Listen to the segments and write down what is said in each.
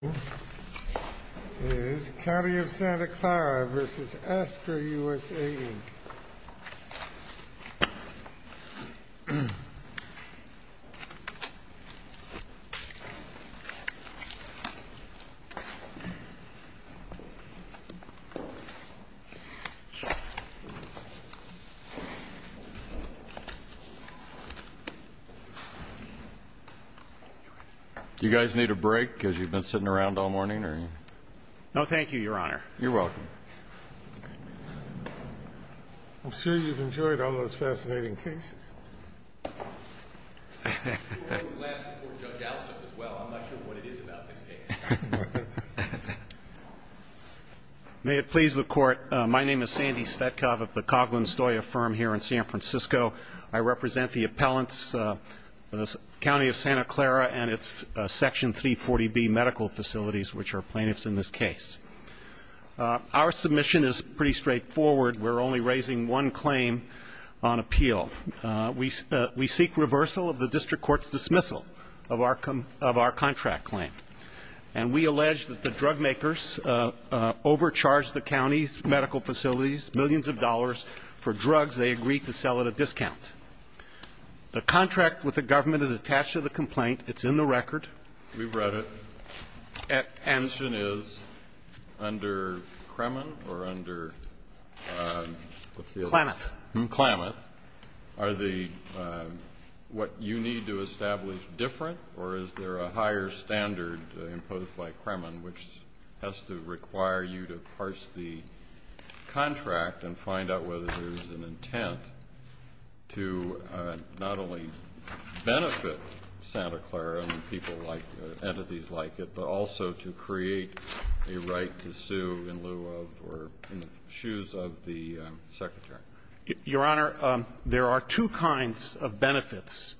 This is County of Santa Clara v. Astra USA, Inc. This is County of Santa Clara v. Astra USA, Inc. May it please the Court, my name is Sandy Svetkov of the Coghlan-Stoya Firm here in San Francisco. I represent the appellants, the County of Santa Clara and its Section 340B medical facilities, which are plaintiffs in this case. Our submission is pretty straightforward. We're only raising one claim on appeal. We seek reversal of the district court's dismissal of our contract claim. And we allege that the drug makers overcharged the county's medical facilities millions of dollars for drugs they agreed to sell at a discount. The contract with the government is attached to the complaint. It's in the record. We've read it. And the question is, under Kremen or under what's the other one? Klamath. Are the — what you need to establish different, or is there a higher standard imposed by Kremen which has to require you to parse the contract and find out whether there is an intent to not only benefit Santa Clara and people like — entities like it, but also to create a right to sue in lieu of or in the shoes of the Secretary? Your Honor, there are two kinds of benefits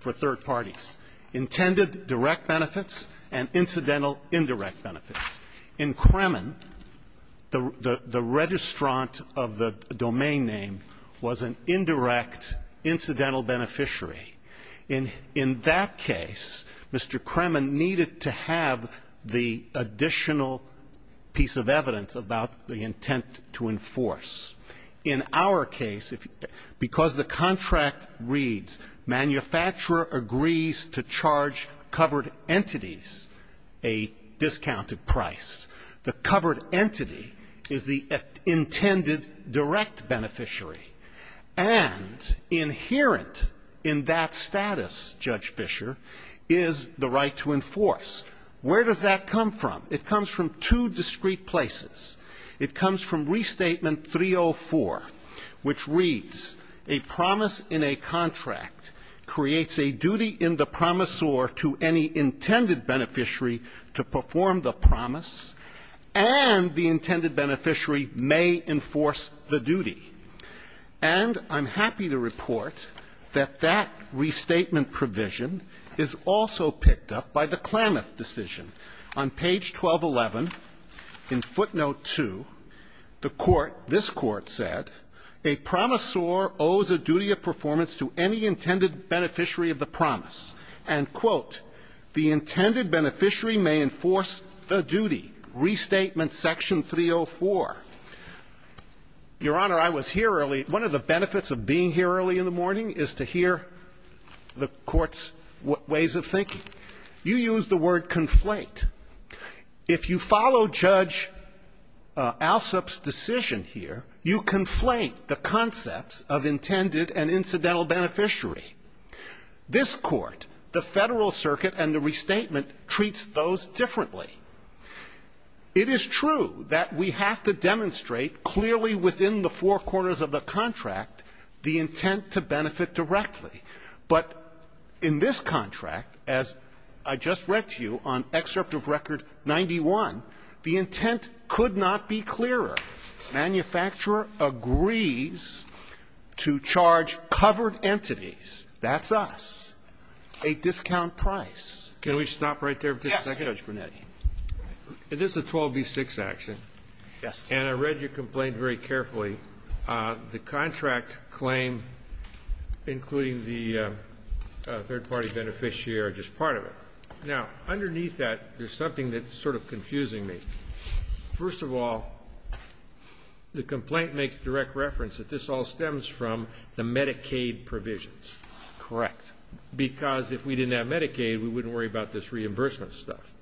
for third parties, intended direct benefits and incidental indirect benefits. In Kremen, the registrant of the domain name was an indirect incidental beneficiary. In that case, Mr. Kremen needed to have the additional piece of evidence about the intent to enforce. In our case, because the contract reads, manufacturer agrees to charge covered entities a discounted price, the covered entity is the intended direct beneficiary. And inherent in that status, Judge Fischer, is the right to enforce. Where does that come from? It comes from two discrete places. It comes from Restatement 304, which reads, A promise in a contract creates a duty in the promisor to any intended beneficiary to perform the promise, and the intended beneficiary may enforce the duty. And I'm happy to report that that restatement provision is also picked up by the Klamath decision. On page 1211, in footnote 2, the Court, this Court said, A promisor owes a duty of performance to any intended beneficiary of the promise. And, quote, the intended beneficiary may enforce the duty. Restatement section 304. Your Honor, I was here early. One of the benefits of being here early in the morning is to hear the Court's ways of thinking. You use the word conflate. If you follow Judge Alsup's decision here, you conflate the concepts of intended and incidental beneficiary. This Court, the Federal Circuit, and the Restatement treats those differently. It is true that we have to demonstrate clearly within the four corners of the contract the intent to benefit directly. But in this contract, as I just read to you on excerpt of Record 91, the intent could not be clearer. Manufacturer agrees to charge covered entities, that's us, a discount price. Can we stop right there for a second? Yes, Judge Brunetti. It is a 12b6 action. Yes. And I read your complaint very carefully. The contract claim, including the third-party beneficiary, are just part of it. Now, underneath that, there's something that's sort of confusing me. First of all, the complaint makes direct reference that this all stems from the Medicaid provisions. Correct. Because if we didn't have Medicaid, we wouldn't worry about this reimbursement stuff.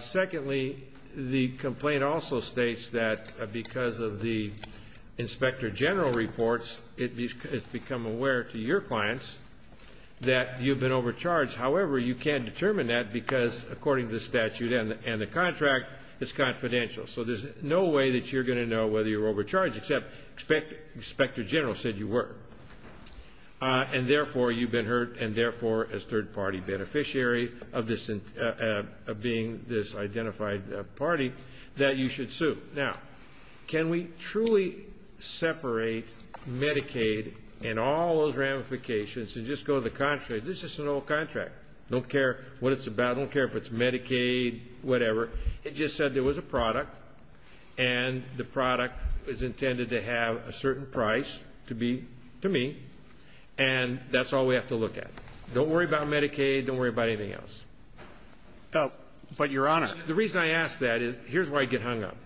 Secondly, the complaint also states that because of the Inspector General reports, it's become aware to your clients that you've been overcharged. However, you can't determine that because, according to the statute and the contract, it's confidential. So there's no way that you're going to know whether you're overcharged, except Inspector General said you were. And, therefore, you've been hurt, and, therefore, as third-party beneficiary of being this identified party, that you should sue. Now, can we truly separate Medicaid and all those ramifications and just go to the contract? This is just an old contract. Don't care what it's about. Don't care if it's Medicaid, whatever. It just said there was a product, and the product is intended to have a certain price to be to me, and that's all we have to look at. Don't worry about Medicaid. Don't worry about anything else. But, Your Honor. The reason I ask that is here's where I get hung up.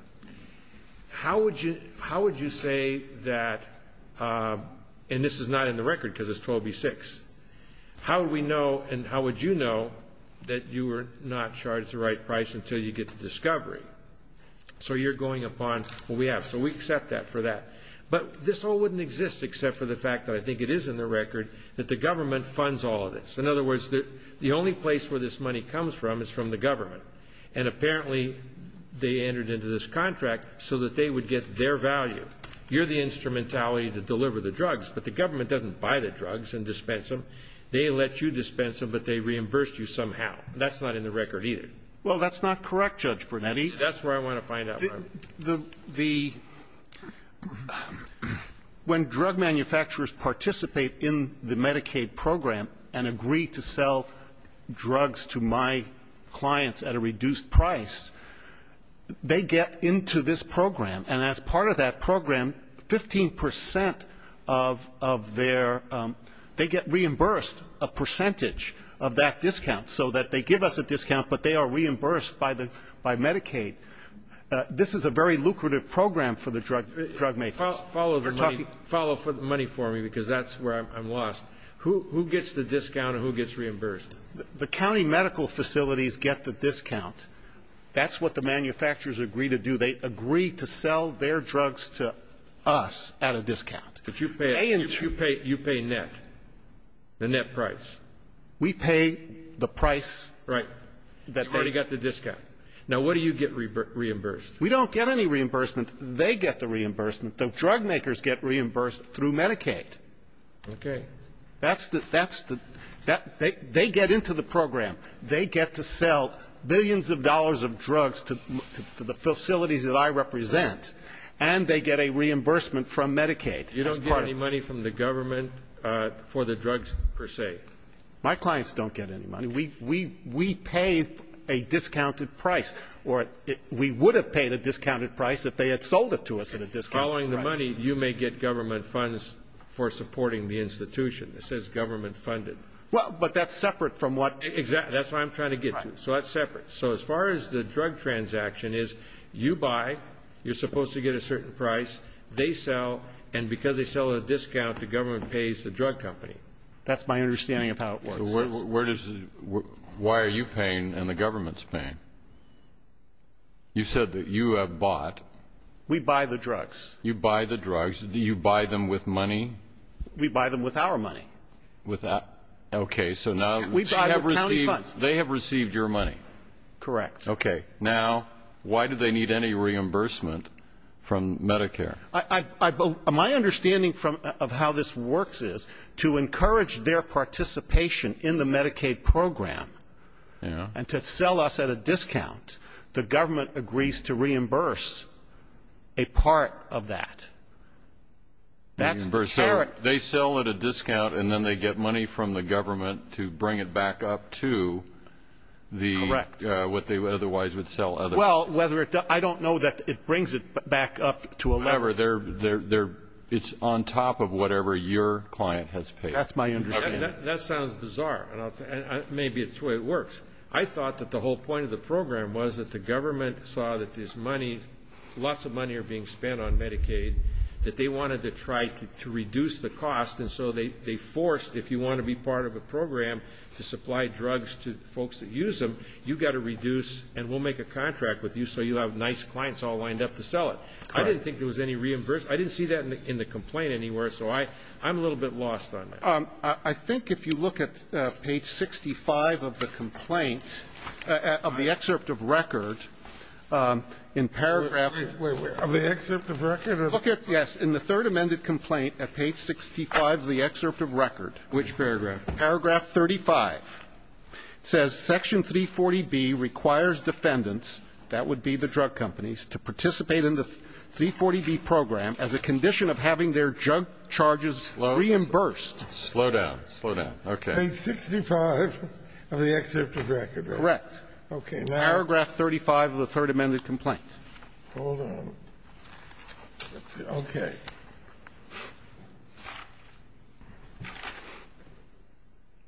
How would you say that, and this is not in the record because it's 12b-6, how would we know and how would you know that you were not charged the right price until you get to discovery? So you're going upon what we have. So we accept that for that. But this all wouldn't exist except for the fact that I think it is in the record that the government funds all of this. In other words, the only place where this money comes from is from the government, and apparently they entered into this contract so that they would get their value. You're the instrumentality to deliver the drugs, but the government doesn't buy the drugs and dispense them. They let you dispense them, but they reimbursed you somehow. That's not in the record either. Well, that's not correct, Judge Brunetti. That's where I want to find out. The ‑‑ when drug manufacturers participate in the Medicaid program and agree to sell drugs to my clients at a reduced price, they get into this program. And as part of that program, 15 percent of their ‑‑ they get reimbursed a percentage of that discount so that they give us a discount, but they are reimbursed by Medicaid. This is a very lucrative program for the drug makers. Follow the money for me, because that's where I'm lost. Who gets the discount and who gets reimbursed? The county medical facilities get the discount. That's what the manufacturers agree to do. They agree to sell their drugs to us at a discount. But you pay net, the net price. We pay the price that they ‑‑ Okay. Now, what do you get reimbursed? We don't get any reimbursement. They get the reimbursement. The drug makers get reimbursed through Medicaid. Okay. That's the ‑‑ that's the ‑‑ they get into the program. They get to sell billions of dollars of drugs to the facilities that I represent, and they get a reimbursement from Medicaid. You don't get any money from the government for the drugs, per se? My clients don't get any money. We pay a discounted price, or we would have paid a discounted price if they had sold it to us at a discount. Following the money, you may get government funds for supporting the institution. It says government funded. Well, but that's separate from what ‑‑ Exactly. That's what I'm trying to get to. So that's separate. So as far as the drug transaction is, you buy, you're supposed to get a certain price, they sell, and because they sell at a discount, the government pays the drug company. That's my understanding of how it works. So where does ‑‑ why are you paying and the government's paying? You said that you have bought. We buy the drugs. You buy the drugs. Do you buy them with money? We buy them with our money. Okay. So now they have received your money. Correct. Okay. Now, why do they need any reimbursement from Medicare? My understanding of how this works is to encourage their participation in the Medicaid program and to sell us at a discount, the government agrees to reimburse a part of that. That's the carrot. So they sell at a discount and then they get money from the government to bring it back up to the ‑‑ Correct. ‑‑what they otherwise would sell others. Well, whether it ‑‑ I don't know that it brings it back up to a level. It's on top of whatever your client has paid. That's my understanding. That sounds bizarre. Maybe it's the way it works. I thought that the whole point of the program was that the government saw that this money, lots of money are being spent on Medicaid, that they wanted to try to reduce the cost, and so they forced, if you want to be part of a program to supply drugs to folks that use them, you've got to reduce and we'll make a contract with you so you'll have nice clients all lined up to sell it. I didn't think there was any reimbursement. I didn't see that in the complaint anywhere, so I'm a little bit lost on that. I think if you look at page 65 of the complaint, of the excerpt of record, in paragraph ‑‑ Wait, wait. Of the excerpt of record? Look at, yes, in the third amended complaint at page 65 of the excerpt of record. Which paragraph? Paragraph 35. It says, Section 340B requires defendants, that would be the drug companies, to participate in the 340B program as a condition of having their drug charges reimbursed. Slow down. Slow down. Okay. Page 65 of the excerpt of record, right? Correct. Okay. Now ‑‑ Paragraph 35 of the third amended complaint. Hold on. Okay. Okay.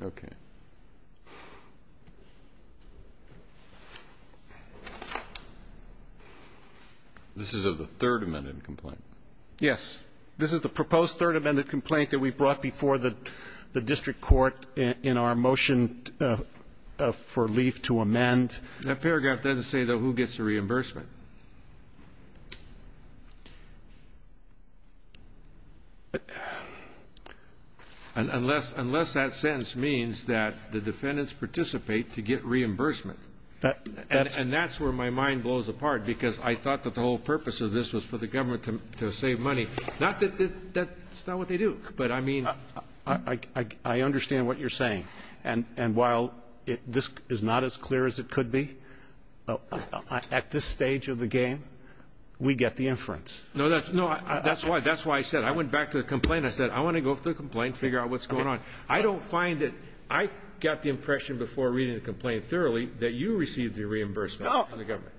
Okay. This is of the third amended complaint. Yes. This is the proposed third amended complaint that we brought before the district court in our motion for leaf to amend. That paragraph doesn't say, though, who gets the reimbursement. Unless that sentence means that the defendants participate to get reimbursement. And that's where my mind blows apart, because I thought that the whole purpose of this was for the government to save money. Not that that's not what they do. But, I mean, I understand what you're saying. And while this is not as clear as it could be, at this stage of the game, we get the inference. No, that's why I said, I went back to the complaint and I said, I want to go through the complaint and figure out what's going on. I don't find that ‑‑ I got the impression before reading the complaint thoroughly that you received the reimbursement from the government.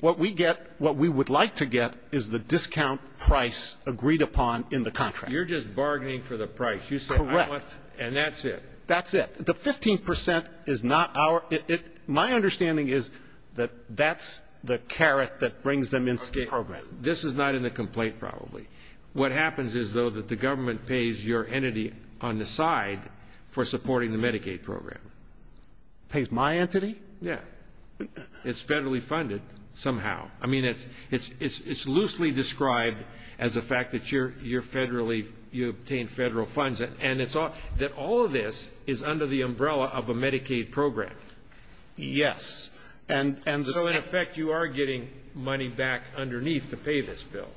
What we get, what we would like to get is the discount price agreed upon in the contract. You're just bargaining for the price. Correct. And that's it. That's it. The 15 percent is not our ‑‑ my understanding is that that's the carrot that brings them into the program. This is not in the complaint, probably. What happens is, though, that the government pays your entity on the side for supporting the Medicaid program. Pays my entity? Yeah. It's federally funded somehow. I mean, it's loosely described as the fact that you're federally ‑‑ you obtain federal funds. And it's all ‑‑ that all of this is under the umbrella of a Medicaid program. Yes. And ‑‑ So, in effect, you are getting money back underneath to pay this bill.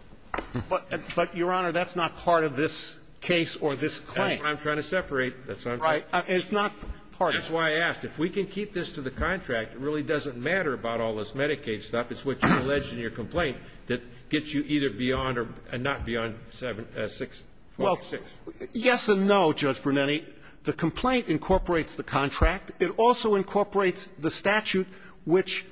But, Your Honor, that's not part of this case or this claim. I'm trying to separate. Right. It's not part of ‑‑ That's why I asked. If we can keep this to the contract, it really doesn't matter about all this Medicaid stuff. It's what you allege in your complaint that gets you either beyond or not beyond 646. Well, yes and no, Judge Brunetti. The complaint incorporates the contract. It also incorporates the statute which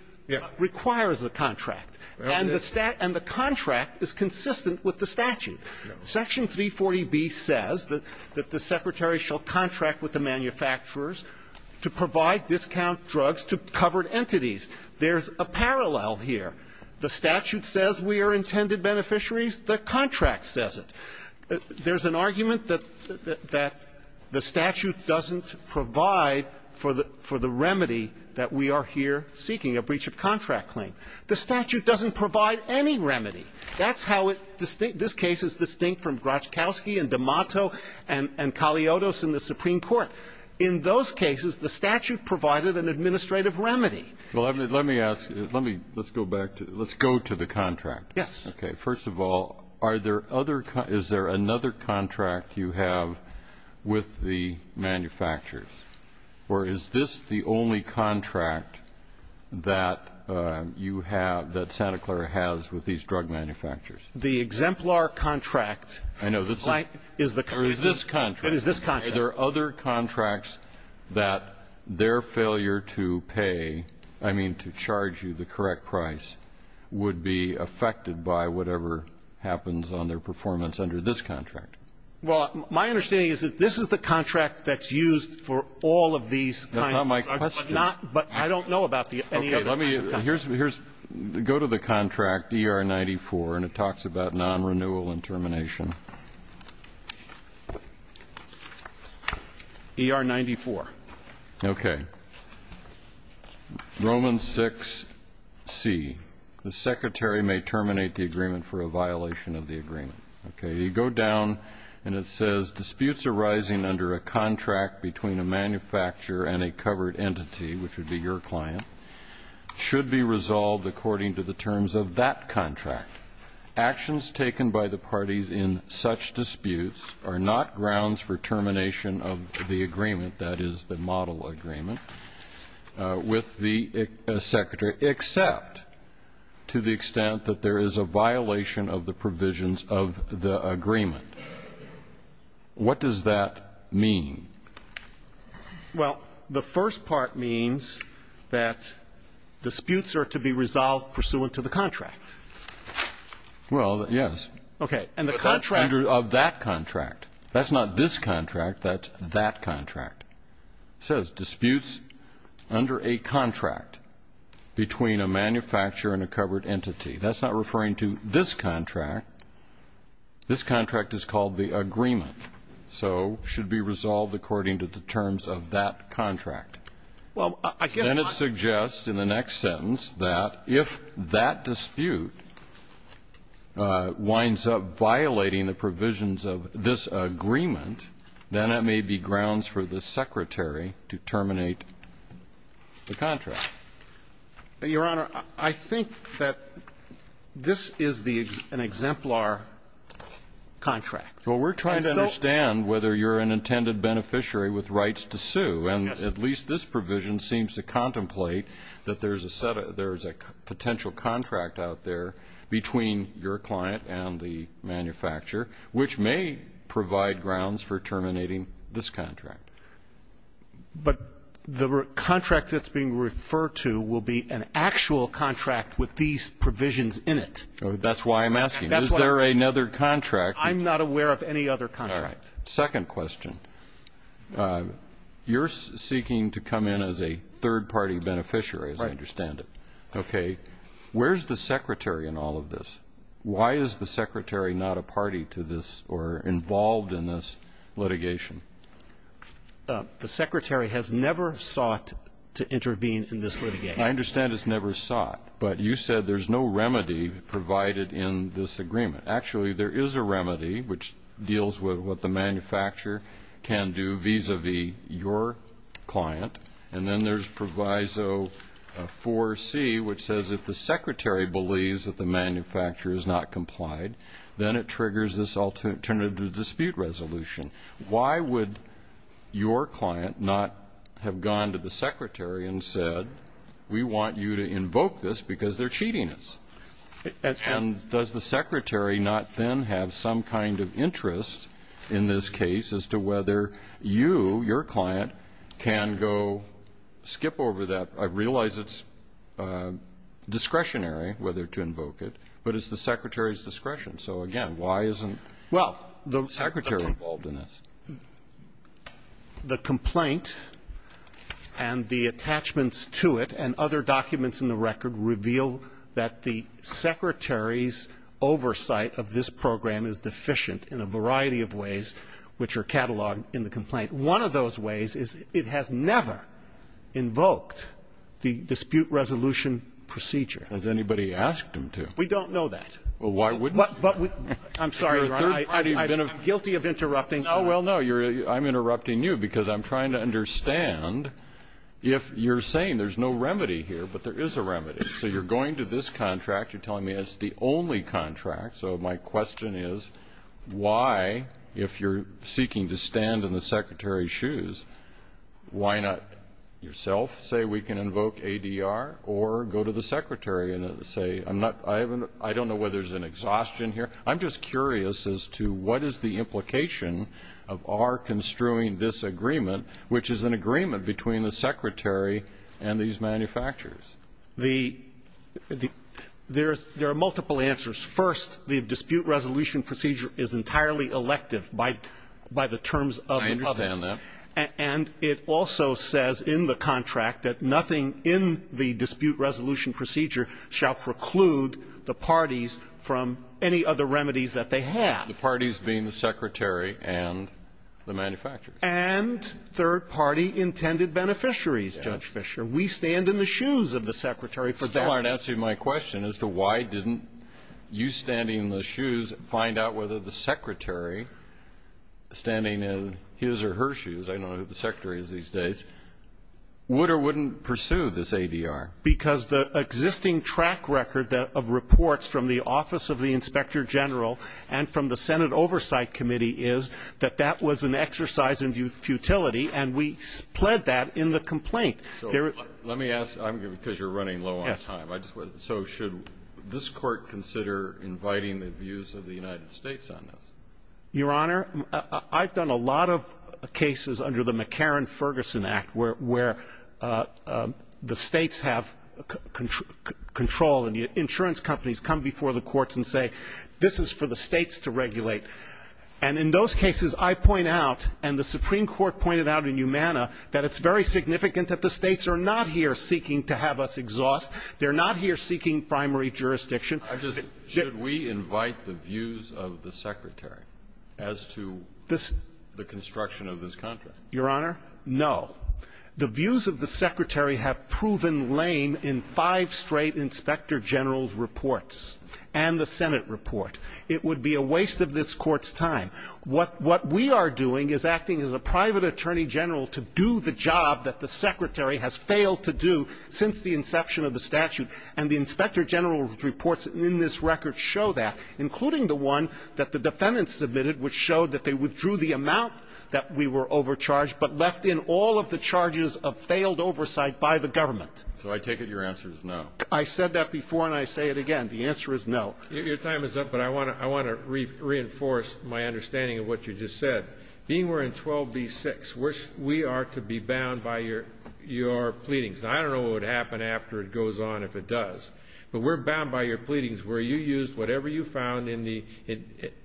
requires the contract. And the ‑‑ and the contract is consistent with the statute. Section 340B says that the secretary shall contract with the manufacturers to provide discount drugs to covered entities. There's a parallel here. The statute says we are intended beneficiaries. The contract says it. There's an argument that ‑‑ that the statute doesn't provide for the ‑‑ for the remedy that we are here seeking, a breach of contract claim. The statute doesn't provide any remedy. That's how it ‑‑ this case is distinct from Graczkowski and D'Amato and ‑‑ and Kaliotos in the Supreme Court. In those cases, the statute provided an administrative remedy. Well, let me ask ‑‑ let me ‑‑ let's go back to ‑‑ let's go to the contract. Yes. Okay. First of all, are there other ‑‑ is there another contract you have with the manufacturers? Or is this the only contract that you have, that Santa Clara has with these drug manufacturers? The exemplar contract. I know. Is the ‑‑ Or is this contract? It is this contract. Are there other contracts that their failure to pay, I mean to charge you the correct price, would be affected by whatever happens on their performance under this contract? Well, my understanding is that this is the contract that's used for all of these kinds of drugs. That's not my question. But not ‑‑ but I don't know about any other kinds of contracts. Okay. Let me ‑‑ here's ‑‑ go to the contract, ER 94, and it talks about nonrenewal and termination. ER 94. Okay. Romans 6C. The secretary may terminate the agreement for a violation of the agreement. Okay. You go down, and it says, disputes arising under a contract between a manufacturer and a covered entity, which would be your client, should be resolved according to Actions taken by the parties in that contract are not subject to any such disputes, are not grounds for termination of the agreement, that is, the model agreement, with the secretary, except to the extent that there is a violation of the provisions of the agreement. What does that mean? Well, the first part means that disputes are to be resolved pursuant to the contract. Well, yes. Okay. And the contract ‑‑ Of that contract. That's not this contract. That's that contract. It says, disputes under a contract between a manufacturer and a covered entity. That's not referring to this contract. This contract is called the agreement, so should be resolved according to the terms of that contract. Well, I guess my ‑‑ If it's violating the provisions of this agreement, then it may be grounds for the secretary to terminate the contract. Your Honor, I think that this is the ‑‑ an exemplar contract. Well, we're trying to understand whether you're an intended beneficiary with rights to sue, and at least this provision seems to contemplate that there's a set of ‑‑ potential contract out there between your client and the manufacturer, which may provide grounds for terminating this contract. But the contract that's being referred to will be an actual contract with these provisions in it. That's why I'm asking. Is there another contract? I'm not aware of any other contract. All right. Second question. You're seeking to come in as a third-party beneficiary, as I understand it. Okay. Where's the secretary in all of this? Why is the secretary not a party to this or involved in this litigation? The secretary has never sought to intervene in this litigation. I understand it's never sought, but you said there's no remedy provided in this agreement. Actually, there is a remedy which deals with what the manufacturer can do vis‑a‑vis your client. And then there's Proviso 4C, which says if the secretary believes that the manufacturer is not complied, then it triggers this alternative dispute resolution. Why would your client not have gone to the secretary and said, we want you to invoke this because they're cheating us? And does the secretary not then have some kind of interest in this case as to whether you, your client, can go skip over that? I realize it's discretionary whether to invoke it, but it's the secretary's discretion. So, again, why isn't the secretary involved in this? Well, the complaint and the attachments to it and other documents in the record reveal that the secretary's oversight of this program is deficient in a variety of ways which are cataloged in the complaint. One of those ways is it has never invoked the dispute resolution procedure. Has anybody asked him to? We don't know that. Well, why wouldn't you? I'm sorry, Your Honor. I'm guilty of interrupting. No, well, no. I'm interrupting you because I'm trying to understand if you're saying there's no remedy here, but there is a remedy. So you're going to this contract. You're telling me it's the only contract. So my question is, why, if you're seeking to stand in the secretary's shoes, why not yourself say we can invoke ADR or go to the secretary and say, I don't know whether there's an exhaustion here. I'm just curious as to what is the implication of our construing this agreement, which is an agreement between the secretary and these manufacturers. There are multiple answers. First, the dispute resolution procedure is entirely elective by the terms of the public. I understand that. And it also says in the contract that nothing in the dispute resolution procedure shall preclude the parties from any other remedies that they have. The parties being the secretary and the manufacturers. And third-party intended beneficiaries, Judge Fischer. We stand in the shoes of the secretary for that. You still aren't answering my question as to why didn't you standing in the shoes find out whether the secretary standing in his or her shoes, I don't know who the secretary is these days, would or wouldn't pursue this ADR. Because the existing track record of reports from the Office of the Inspector General and from the Senate Oversight Committee is that that was an exercise in futility, and we pled that in the complaint. So let me ask, because you're running low on time, so should this Court consider inviting the views of the United States on this? Your Honor, I've done a lot of cases under the McCarran-Ferguson Act where the States have control and the insurance companies come before the courts and say this is for the States to regulate. And in those cases, I point out, and the Supreme Court pointed out in Humana that it's very significant that the States are not here seeking to have us exhaust. They're not here seeking primary jurisdiction. Should we invite the views of the secretary as to the construction of this contract? Your Honor, no. The views of the secretary have proven lame in five straight inspector general's reports and the Senate report. It would be a waste of this Court's time. What we are doing is acting as a private attorney general to do the job that the secretary has failed to do since the inception of the statute. And the inspector general's reports in this record show that, including the one that the defendants submitted, which showed that they withdrew the amount that we were overcharged, but left in all of the charges of failed oversight by the government. So I take it your answer is no. I said that before and I say it again. The answer is no. Your time is up, but I want to reinforce my understanding of what you just said. Being we're in 12b-6, we are to be bound by your pleadings. And I don't know what would happen after it goes on if it does. But we're bound by your pleadings where you used whatever you found in the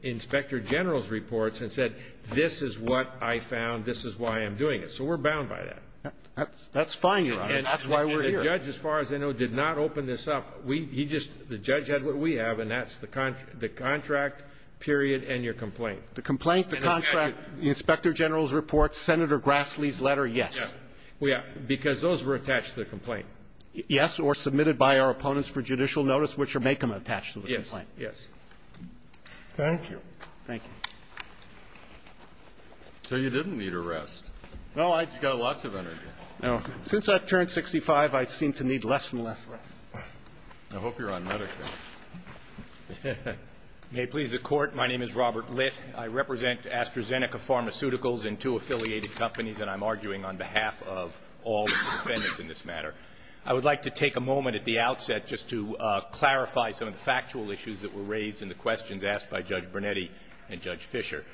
inspector general's reports and said this is what I found, this is why I'm doing it. So we're bound by that. That's fine, Your Honor. That's why we're here. And the judge, as far as I know, did not open this up. He just the judge had what we have, and that's the contract period and your complaint. The complaint, the contract, the inspector general's reports, Senator Grassley's letter, yes. Yes. Because those were attached to the complaint. Yes. Or submitted by our opponents for judicial notice, which would make them attached to the complaint. Yes. Yes. Thank you. Thank you. So you didn't need a rest. No. You got lots of energy. No. Since I've turned 65, I seem to need less and less rest. I hope you're on medication. May it please the Court. My name is Robert Litt. I represent AstraZeneca Pharmaceuticals and two affiliated companies, and I'm arguing on behalf of all its defendants in this matter. I would like to take a moment at the outset just to clarify some of the factual issues that were raised in the questions asked by Judge Brunetti and Judge Fisher.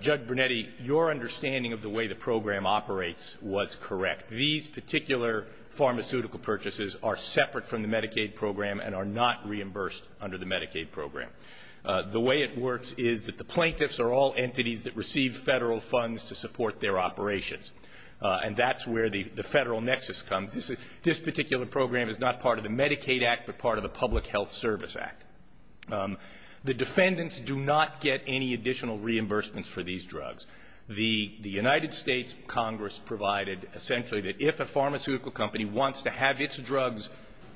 Judge Brunetti, your understanding of the way the program operates was correct. These particular pharmaceutical purchases are separate from the Medicaid program and are not reimbursed under the Medicaid program. The way it works is that the plaintiffs are all entities that receive Federal funds to support their operations, and that's where the Federal nexus comes. This particular program is not part of the Medicaid Act, but part of the Public Health Service Act. The defendants do not get any additional reimbursements for these drugs. The United States Congress provided essentially that if a pharmaceutical company wants to have its drugs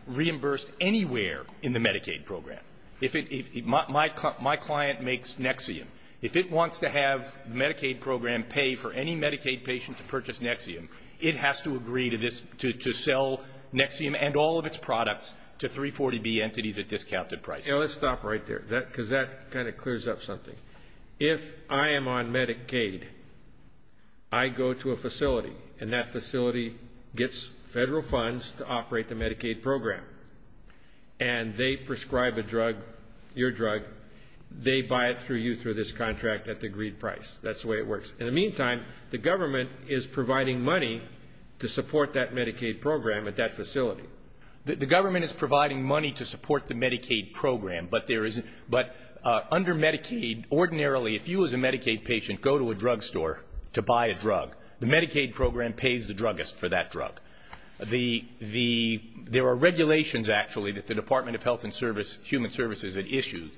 reimbursed anywhere in the Medicaid program, if it my client makes Nexium, if it wants to have Medicaid program pay for any Medicaid patient to purchase Nexium, it has to agree to this, to sell Nexium and all of its products to 340B entities at discounted prices. Let's stop right there, because that kind of clears up something. If I am on Medicaid, I go to a facility, and that facility gets Federal funds to operate the Medicaid program, and they prescribe a drug, your drug, they buy it through you through this contract at the agreed price. That's the way it works. In the meantime, the government is providing money to support that Medicaid program at that facility. The government is providing money to support the Medicaid program, but under Medicaid ordinarily if you as a Medicaid patient go to a drug store to buy a drug, the Medicaid program pays the druggist for that drug. There are regulations actually that the Department of Health and Human Services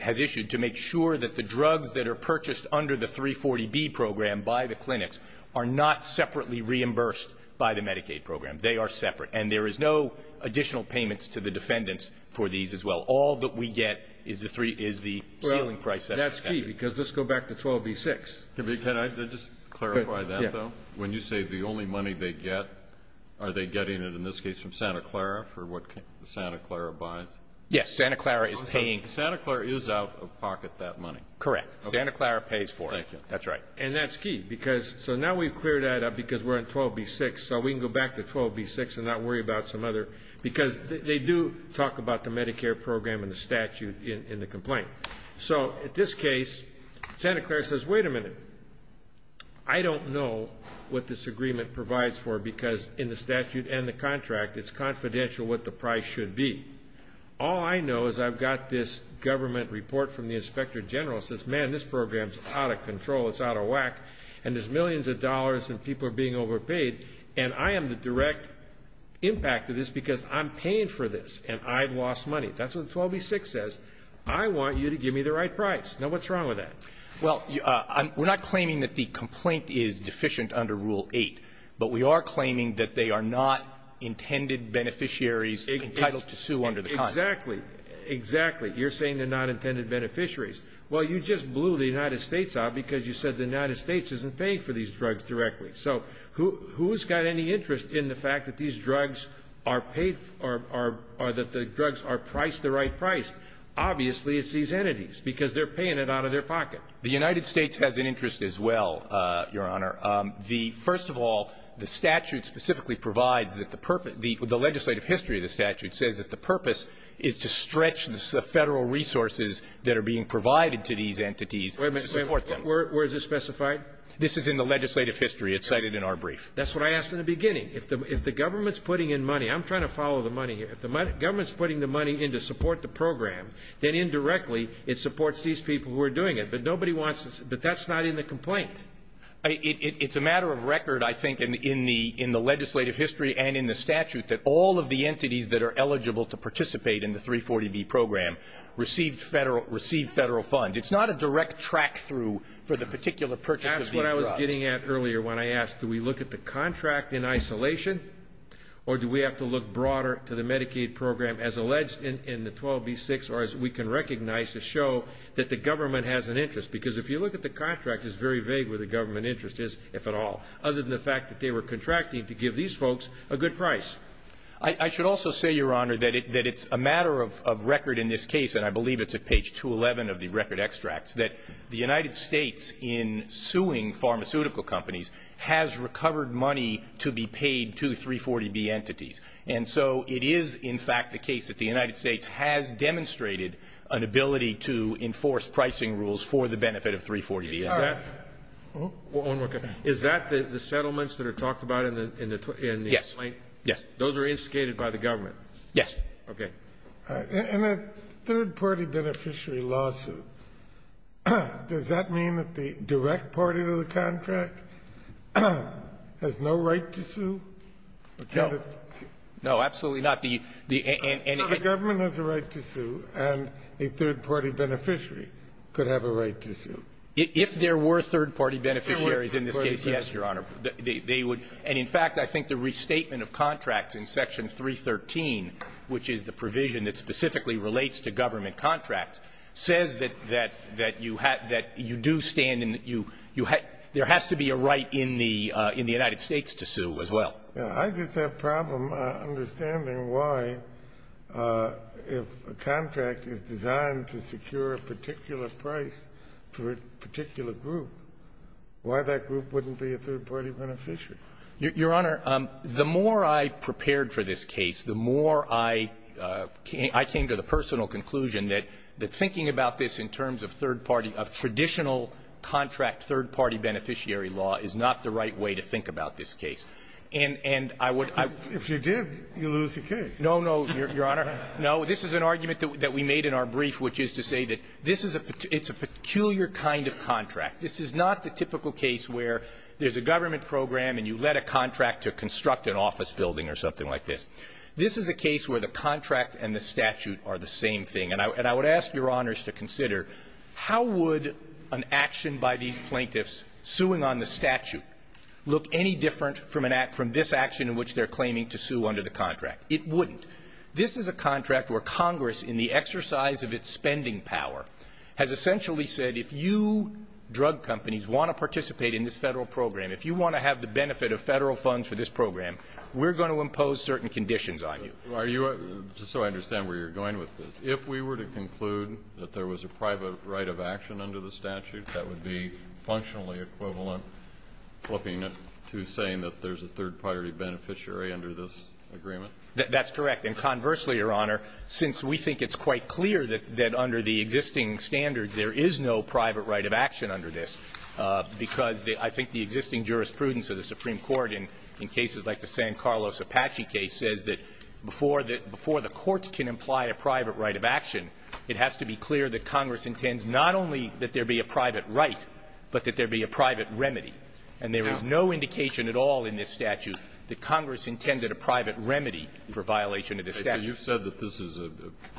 has issued to make sure that the drugs that are purchased under the 340B program by the clinics are not separately reimbursed by the Medicaid program. They are separate. And there is no additional payments to the defendants for these as well. All that we get is the ceiling price. That's key, because let's go back to 12B-6. Can I just clarify that, though? When you say the only money they get, are they getting it in this case from Santa Clara for what Santa Clara buys? Yes, Santa Clara is paying. Santa Clara is out of pocket that money. Correct. Santa Clara pays for it. Thank you. That's right. And that's key, because now we've cleared that up because we're on 12B-6, so we can go back to 12B-6 and not worry about some other. Because they do talk about the Medicare program and the statute in the complaint. So in this case, Santa Clara says, wait a minute. I don't know what this agreement provides for because in the statute and the contract, it's confidential what the price should be. All I know is I've got this government report from the inspector general that says, man, this program is out of control, it's out of whack, and there's millions of dollars and people are being overpaid. And I am the direct impact of this because I'm paying for this and I've lost money. That's what 12B-6 says. I want you to give me the right price. Now, what's wrong with that? Well, we're not claiming that the complaint is deficient under Rule 8, but we are claiming that they are not intended beneficiaries entitled to sue under the contract. Exactly. Exactly. You're saying they're not intended beneficiaries. Well, you just blew the United States out because you said the United States isn't paying for these drugs directly. So who's got any interest in the fact that these drugs are paid for or that the drugs are priced the right price? Obviously, it's these entities because they're paying it out of their pocket. The United States has an interest as well, Your Honor. The – first of all, the statute specifically provides that the purpose – the legislative history of the statute says that the purpose is to stretch the Federal resources that are being provided to these entities to support them. Wait a minute. Where is this specified? This is in the legislative history. It's cited in our brief. That's what I asked in the beginning. If the government's putting in money – I'm trying to follow the money here. If the government's putting the money in to support the program, then indirectly, it supports these people who are doing it. But nobody wants to – but that's not in the complaint. It's a matter of record, I think, in the legislative history and in the statute, that all of the entities that are eligible to participate in the 340B program receive Federal funds. It's not a direct track-through for the particular purchase of these drugs. That's what I was getting at earlier when I asked, do we look at the contract in isolation, or do we have to look broader to the Medicaid program as alleged in the 12B6, or as we can recognize to show that the government has an interest? Because if you look at the contract, it's very vague where the government interest is, if at all, other than the fact that they were contracting to give these folks a good price. I should also say, Your Honor, that it's a matter of record in this case, and I believe it's at page 211 of the record extracts, that the United States, in suing pharmaceutical companies, has recovered money to be paid to 340B entities. And so it is, in fact, the case that the United States has demonstrated an ability to enforce pricing rules for the benefit of 340B. Is that the settlements that are talked about in the complaint? Yes. Those are instigated by the government? Yes. Okay. In a third-party beneficiary lawsuit, does that mean that the direct party to the contract has no right to sue? No. No, absolutely not. The government has a right to sue, and a third-party beneficiary could have a right to sue. If there were third-party beneficiaries in this case, yes, Your Honor. They would. And, in fact, I think the restatement of contracts in Section 313, which is the provision that specifically relates to government contracts, says that you do stand in the you you have there has to be a right in the United States to sue as well. I just have a problem understanding why, if a contract is designed to secure a particular price for a particular group, why that group wouldn't be a third-party beneficiary? Your Honor, the more I prepared for this case, the more I came to the personal conclusion that thinking about this in terms of third-party, of traditional contract third-party beneficiary law is not the right way to think about this case. And I would If you did, you'd lose the case. No, no, Your Honor. No. This is an argument that we made in our brief, which is to say that this is a peculiar kind of contract. This is not the typical case where there's a government program and you let a contract to construct an office building or something like this. This is a case where the contract and the statute are the same thing. And I would ask Your Honors to consider how would an action by these plaintiffs suing on the statute look any different from this action in which they're claiming to sue under the contract? It wouldn't. This is a contract where Congress, in the exercise of its spending power, has essentially said if you drug companies want to participate in this Federal program, if you want to have the benefit of Federal funds for this program, we're going to impose certain conditions on you. So I understand where you're going with this. If we were to conclude that there was a private right of action under the statute, that would be functionally equivalent flipping it to saying that there's a third-party beneficiary under this agreement? That's correct. And conversely, Your Honor, since we think it's quite clear that under the existing standards there is no private right of action under this, because I think the existing jurisprudence of the Supreme Court in cases like the San Carlos Apache case says that before the courts can imply a private right of action, it has to be clear that Congress intends not only that there be a private right, but that there be a private remedy. And there is no indication at all in this statute that Congress intended a private remedy for violation of this statute. So you've said that this is a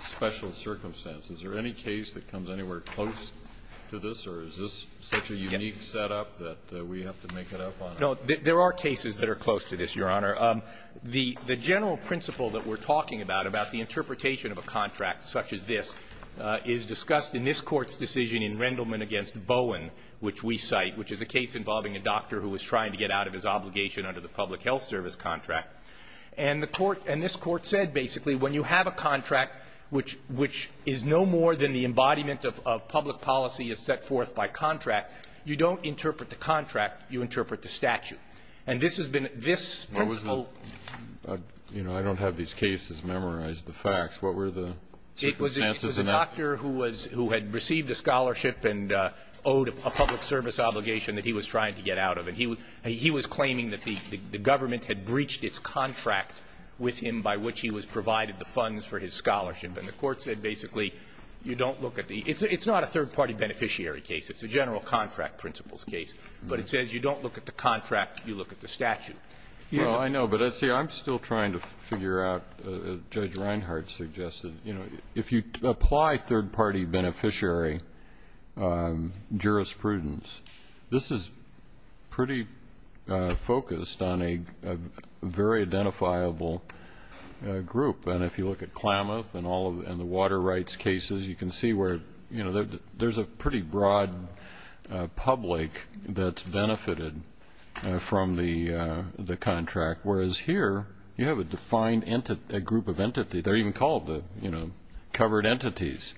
special circumstance. Is there any case that comes anywhere close to this, or is this such a unique setup that we have to make it up on our own? No. There are cases that are close to this, Your Honor. The general principle that we're talking about, about the interpretation of a contract such as this, is discussed in this Court's decision in Rendleman v. Bowen, which we cite, which is a case involving a doctor who was trying to get out of his obligation under the public health service contract. And the Court and this Court said basically when you have a contract which is no more than the embodiment of public policy as set forth by contract, you don't interpret the contract, you interpret the statute. And this has been this principle. I don't have these cases memorized, the facts. What were the circumstances? This was a doctor who was who had received a scholarship and owed a public service obligation that he was trying to get out of. And he was claiming that the government had breached its contract with him by which he was provided the funds for his scholarship. And the Court said basically you don't look at the – it's not a third-party beneficiary case. It's a general contract principles case. But it says you don't look at the contract, you look at the statute. Well, I know. But, see, I'm still trying to figure out, as Judge Reinhardt suggested, you know, if you apply third-party beneficiary jurisprudence, this is pretty focused on a very identifiable group. And if you look at Klamath and all of – and the water rights cases, you can see where, you know, there's a pretty broad public that's benefited from the contract. Whereas here, you have a defined entity – a group of entity. They're even called the, you know, covered entities.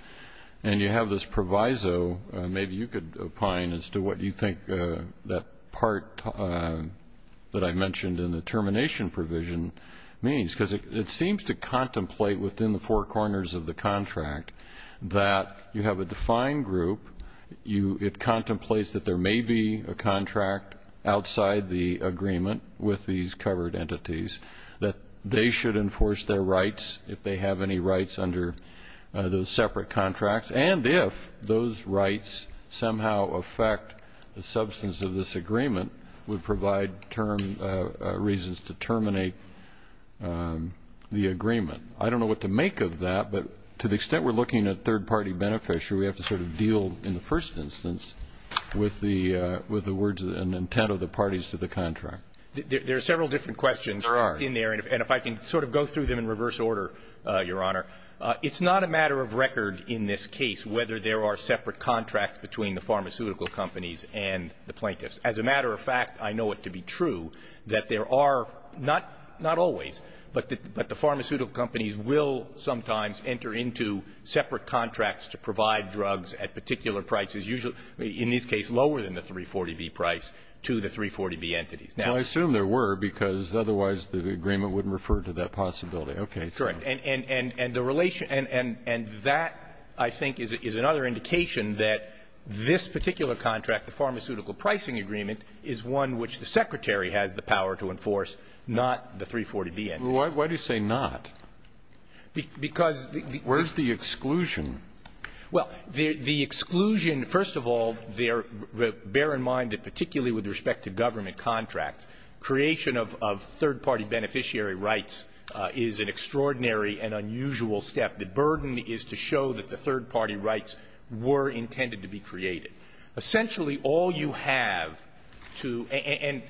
And you have this proviso. Maybe you could opine as to what you think that part that I mentioned in the termination provision means. Because it seems to contemplate within the four corners of the contract that you have a defined group. It contemplates that there may be a contract outside the agreement with these entities if they have any rights under those separate contracts. And if those rights somehow affect the substance of this agreement, would provide term – reasons to terminate the agreement. I don't know what to make of that. But to the extent we're looking at third-party beneficiary, we have to sort of deal in the first instance with the words and intent of the parties to the contract. There are several different questions in there. And if I can sort of go through them in reverse order, Your Honor, it's not a matter of record in this case whether there are separate contracts between the pharmaceutical companies and the plaintiffs. As a matter of fact, I know it to be true that there are not – not always, but the pharmaceutical companies will sometimes enter into separate contracts to provide drugs at particular prices, usually, in this case, lower than the 340B price to the 340B entities. Now, I assume there were, because otherwise the agreement wouldn't refer to that possibility. Okay. So. Correct. And the relation – and that, I think, is another indication that this particular contract, the pharmaceutical pricing agreement, is one which the Secretary has the power to enforce, not the 340B entities. Why do you say not? Because the – Where's the exclusion? Well, the exclusion – first of all, bear in mind that particularly with respect to government contracts, creation of third-party beneficiary rights is an extraordinary and unusual step. The burden is to show that the third-party rights were intended to be created. Essentially, all you have to – and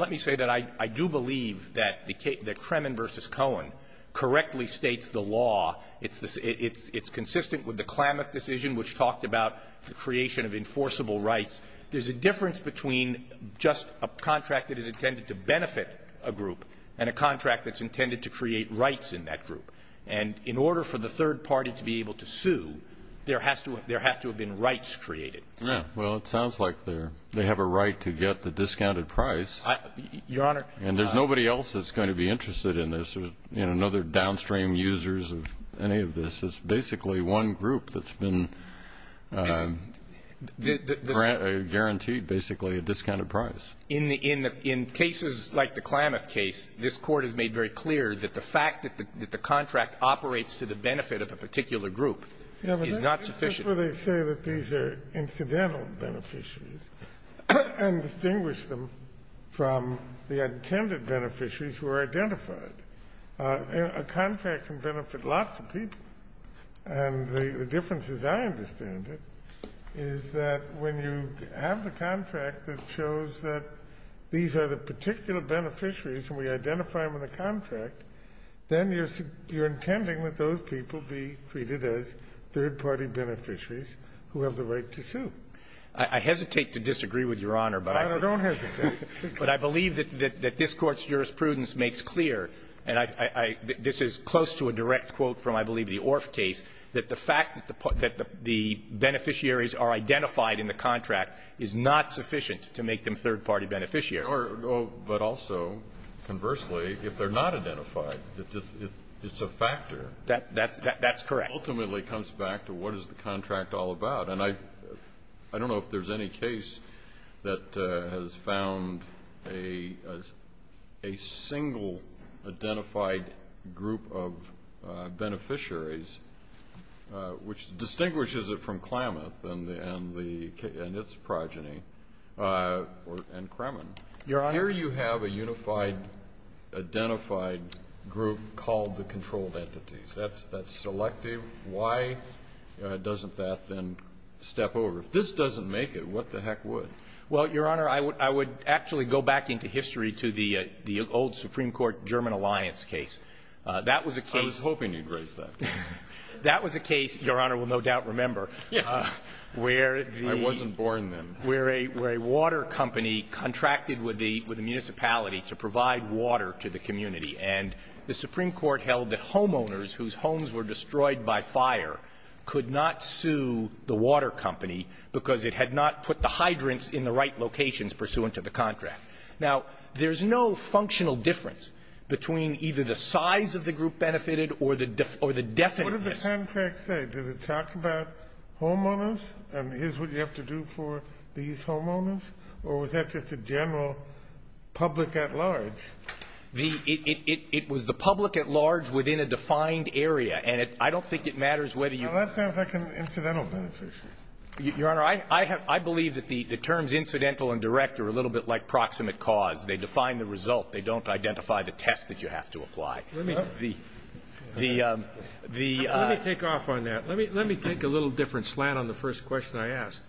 let me say that I do believe that the Kremen v. Cohen correctly states the law. It's consistent with the Klamath decision, which talked about the creation of enforceable rights. There's a difference between just a contract that is intended to benefit a group and a contract that's intended to create rights in that group. And in order for the third party to be able to sue, there has to – there has to have been rights created. Yeah. Well, it sounds like they're – they have a right to get the discounted price. Your Honor – And there's nobody else that's going to be interested in this. There's – you know, no other downstream users of any of this. It's basically one group that's been guaranteed, basically, a discounted price. In the – in cases like the Klamath case, this Court has made very clear that the fact that the contract operates to the benefit of a particular group is not sufficient. Yeah, but that's just where they say that these are incidental beneficiaries and distinguish them from the intended beneficiaries who are identified. A contract can benefit lots of people. And the difference, as I understand it, is that when you have the contract that shows that these are the particular beneficiaries and we identify them in the contract, then you're – you're intending that those people be treated as third-party beneficiaries who have the right to sue. I hesitate to disagree with Your Honor, but I think – I don't hesitate. But I believe that this Court's jurisprudence makes clear, and I – this is close to a direct quote from, I believe, the Orff case, that the fact that the – that the beneficiaries are identified in the contract is not sufficient to make them third-party beneficiaries. But also, conversely, if they're not identified, it's a factor. That's – that's correct. It ultimately comes back to what is the contract all about. And I – I don't know if there's any case that has found a – a single identified group of beneficiaries which distinguishes it from Klamath and the – and the – and its progeny or – and Kremen. Your Honor. Here you have a unified, identified group called the controlled entities. That's – that's selective. Why doesn't that then step over? If this doesn't make it, what the heck would? Well, Your Honor, I would – I would actually go back into history to the – the old Supreme Court-German alliance case. That was a case – I was hoping you'd raise that. That was a case, Your Honor will no doubt remember, where the – I wasn't born then. Where a – where a water company contracted with the – with the municipality to provide water to the community. And the Supreme Court held that homeowners whose homes were destroyed by fire could not sue the water company because it had not put the hydrants in the right locations pursuant to the contract. Now, there's no functional difference between either the size of the group benefited or the – or the definiteness. What did the contract say? Did it talk about homeowners and here's what you have to do for these homeowners? Or was that just a general public at large? The – it was the public at large within a defined area. And it – I don't think it matters whether you – Well, that sounds like an incidental benefit. Your Honor, I – I have – I believe that the terms incidental and direct are a little bit like proximate cause. They define the result. They don't identify the test that you have to apply. Let me take off on that. Let me take a little different slant on the first question I asked.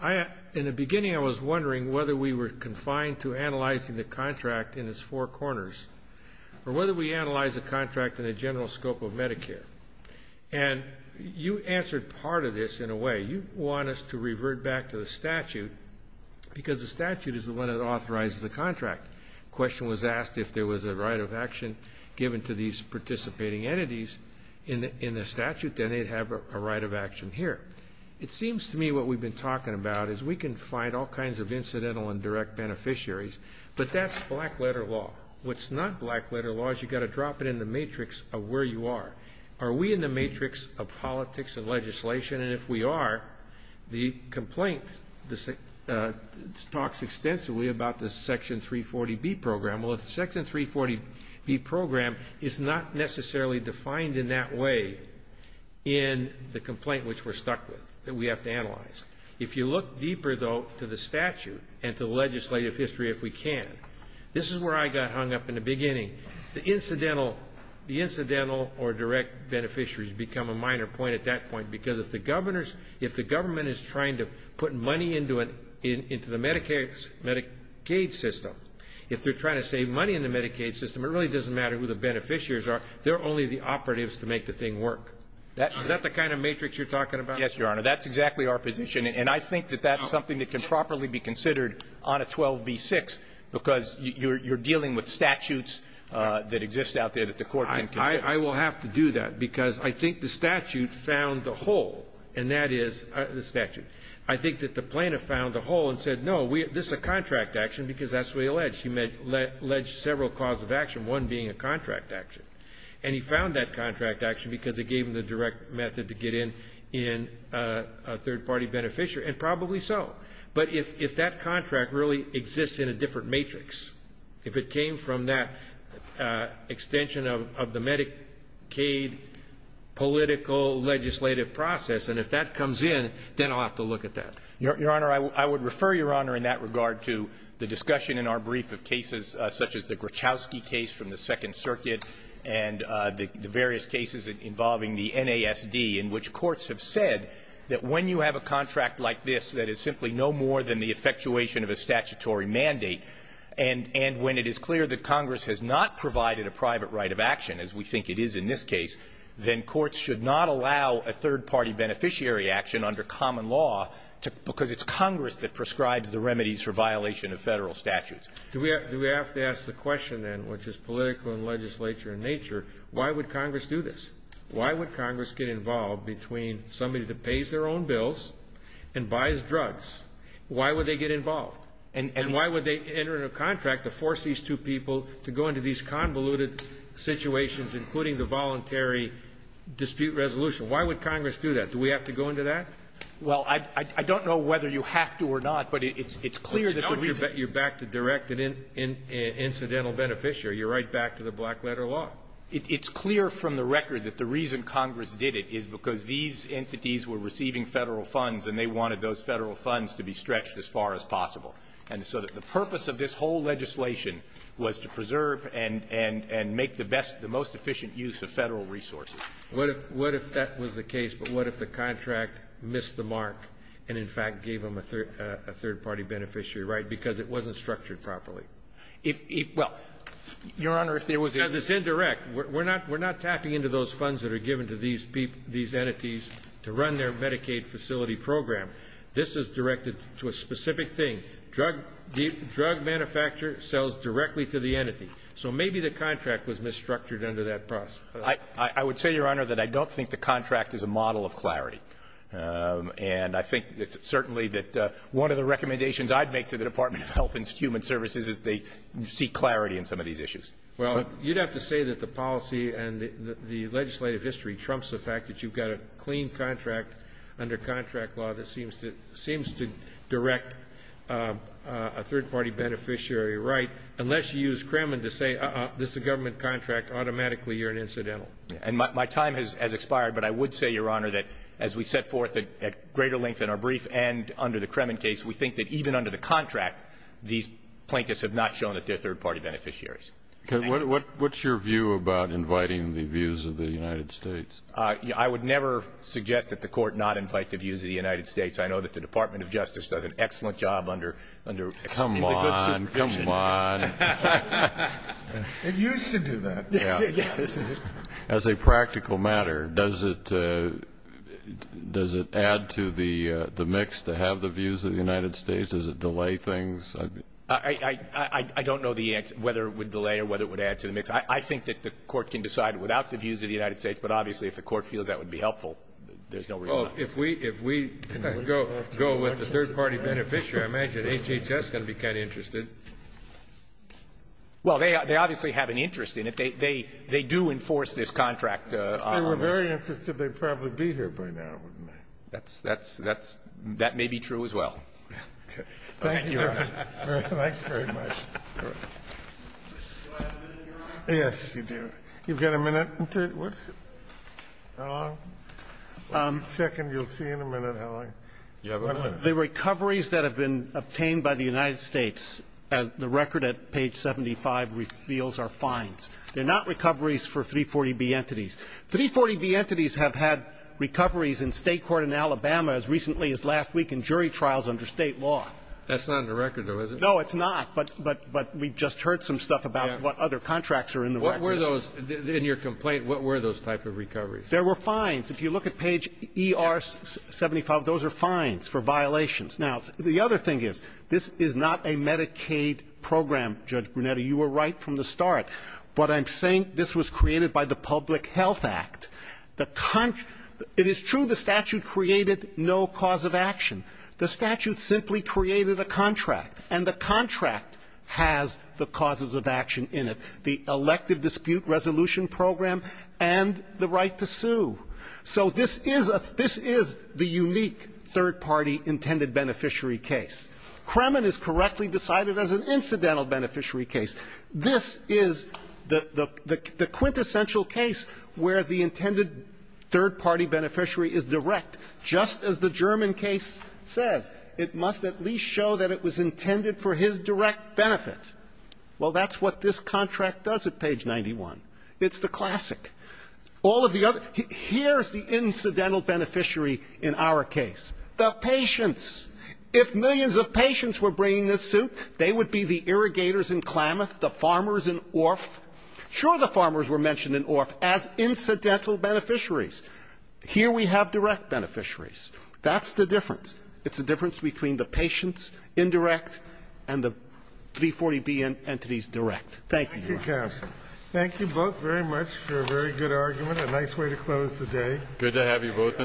I – in the beginning, I was wondering whether we were confined to analyzing the contract in its four corners or whether we analyze the contract in a general scope of Medicare. And you answered part of this in a way. You want us to revert back to the statute because the statute is the one that authorizes the contract. The question was asked if there was a right of action given to these participating entities in the statute, then they'd have a right of action here. It seems to me what we've been talking about is we can find all kinds of incidental and direct beneficiaries, but that's black-letter law. What's not black-letter law is you've got to drop it in the matrix of where you are. Are we in the matrix of politics and legislation? And if we are, the complaint talks extensively about the Section 340B program. Well, the Section 340B program is not necessarily defined in that way in the complaint If you look deeper, though, to the statute and to legislative history, if we can, this is where I got hung up in the beginning. The incidental or direct beneficiaries become a minor point at that point because if the government is trying to put money into the Medicaid system, if they're trying to save money in the Medicaid system, it really doesn't matter who the beneficiaries are, they're only the operatives to make the thing work. Is that the kind of matrix you're talking about? Yes, Your Honor. That's exactly our position. And I think that that's something that can properly be considered on a 12b-6, because you're dealing with statutes that exist out there that the Court can consider. I will have to do that, because I think the statute found the hole, and that is the statute. I think that the plaintiff found the hole and said, no, this is a contract action because that's what he alleged. He alleged several cause of action, one being a contract action. And he found that contract action because it gave him the direct method to get in, in a third-party beneficiary, and probably so. But if that contract really exists in a different matrix, if it came from that extension of the Medicaid political legislative process, and if that comes in, then I'll have to look at that. Your Honor, I would refer, Your Honor, in that regard to the discussion in our brief of cases, such as the Gruchowski case from the Second Circuit and the various cases involving the NASD, in which courts have said that when you have a contract like this that is simply no more than the effectuation of a statutory mandate, and when it is clear that Congress has not provided a private right of action, as we think it is in this case, then courts should not allow a third-party beneficiary action under common law because it's Congress that prescribes the remedies for violation of Federal statutes. Do we have to ask the question, then, which is political and legislature in nature, why would Congress do this? Why would Congress get involved between somebody that pays their own bills and buys drugs, why would they get involved? And why would they enter into a contract to force these two people to go into these convoluted situations, including the voluntary dispute resolution? Why would Congress do that? Do we have to go into that? Well, I don't know whether you have to or not, but it's clear that the reason you're back to direct an incidental beneficiary, you're right back to the black-letter law. It's clear from the record that the reason Congress did it is because these entities were receiving Federal funds and they wanted those Federal funds to be stretched as far as possible. And so the purpose of this whole legislation was to preserve and make the best, the most efficient use of Federal resources. What if that was the case, but what if the contract missed the mark and, in fact, gave them a third party beneficiary, right, because it wasn't structured properly? Well, Your Honor, if there was indirect. Because it's indirect. We're not tapping into those funds that are given to these entities to run their Medicaid facility program. This is directed to a specific thing. Drug manufacturer sells directly to the entity. So maybe the contract was misstructured under that process. I would say, Your Honor, that I don't think the contract is a model of clarity. And I think it's certainly that one of the recommendations I'd make to the Department of Health and Human Services is they seek clarity in some of these issues. Well, you'd have to say that the policy and the legislative history trumps the fact that you've got a clean contract under contract law that seems to direct a third party beneficiary, right, unless you use Kremen to say, uh-uh, this is a government contract, automatically you're an incidental. And my time has expired, but I would say, Your Honor, that as we set forth at greater length in our brief and under the Kremen case, we think that even under the contract, these plaintiffs have not shown that they're third party beneficiaries. What's your view about inviting the views of the United States? I would never suggest that the Court not invite the views of the United States. I know that the Department of Justice does an excellent job under the good supervision. Come on. Come on. It used to do that. As a practical matter, does it add to the mix to have the views of the United States? Does it delay things? I don't know whether it would delay or whether it would add to the mix. I think that the Court can decide without the views of the United States, but obviously if the Court feels that would be helpful, there's no reason not to. Well, if we go with the third party beneficiary, I imagine HHS is going to be kind of interested. Well, they obviously have an interest in it. They do enforce this contract. If they were very interested, they'd probably be here by now, wouldn't they? That may be true as well. Okay. Thank you, Your Honor. Thanks very much. Do I have a minute, Your Honor? Yes, you do. You've got a minute? How long? One second. You'll see in a minute how long. You have a minute. The recoveries that have been obtained by the United States, the record at page 75 reveals are fines. They're not recoveries for 340B entities. 340B entities have had recoveries in State court in Alabama as recently as last week in jury trials under State law. That's not in the record, though, is it? No, it's not. But we just heard some stuff about what other contracts are in the record. What were those? In your complaint, what were those type of recoveries? There were fines. If you look at page ER75, those are fines for violations. Now, the other thing is this is not a Medicaid program, Judge Brunetti. You were right from the start. But I'm saying this was created by the Public Health Act. It is true the statute created no cause of action. The statute simply created a contract, and the contract has the causes of action in it. The elective dispute resolution program and the right to sue. So this is a – this is the unique third-party intended beneficiary case. Kremen is correctly decided as an incidental beneficiary case. This is the quintessential case where the intended third-party beneficiary is direct, just as the German case says. It must at least show that it was intended for his direct benefit. Well, that's what this contract does at page 91. It's the classic. All of the other – here's the incidental beneficiary in our case, the patients. If millions of patients were bringing this suit, they would be the irrigators in Klamath, the farmers in Orff. Sure, the farmers were mentioned in Orff as incidental beneficiaries. Here we have direct beneficiaries. That's the difference. It's a difference between the patients, indirect, and the 340B entities, direct. Thank you, Your Honor. Thank you, counsel. Thank you both very much for a very good argument, a nice way to close the day. Good to have you both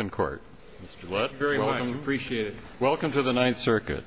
in court. Mr. Lutz, welcome. Thank you very much. I appreciate it. Welcome to the Ninth Circuit. Thank you. Thank you.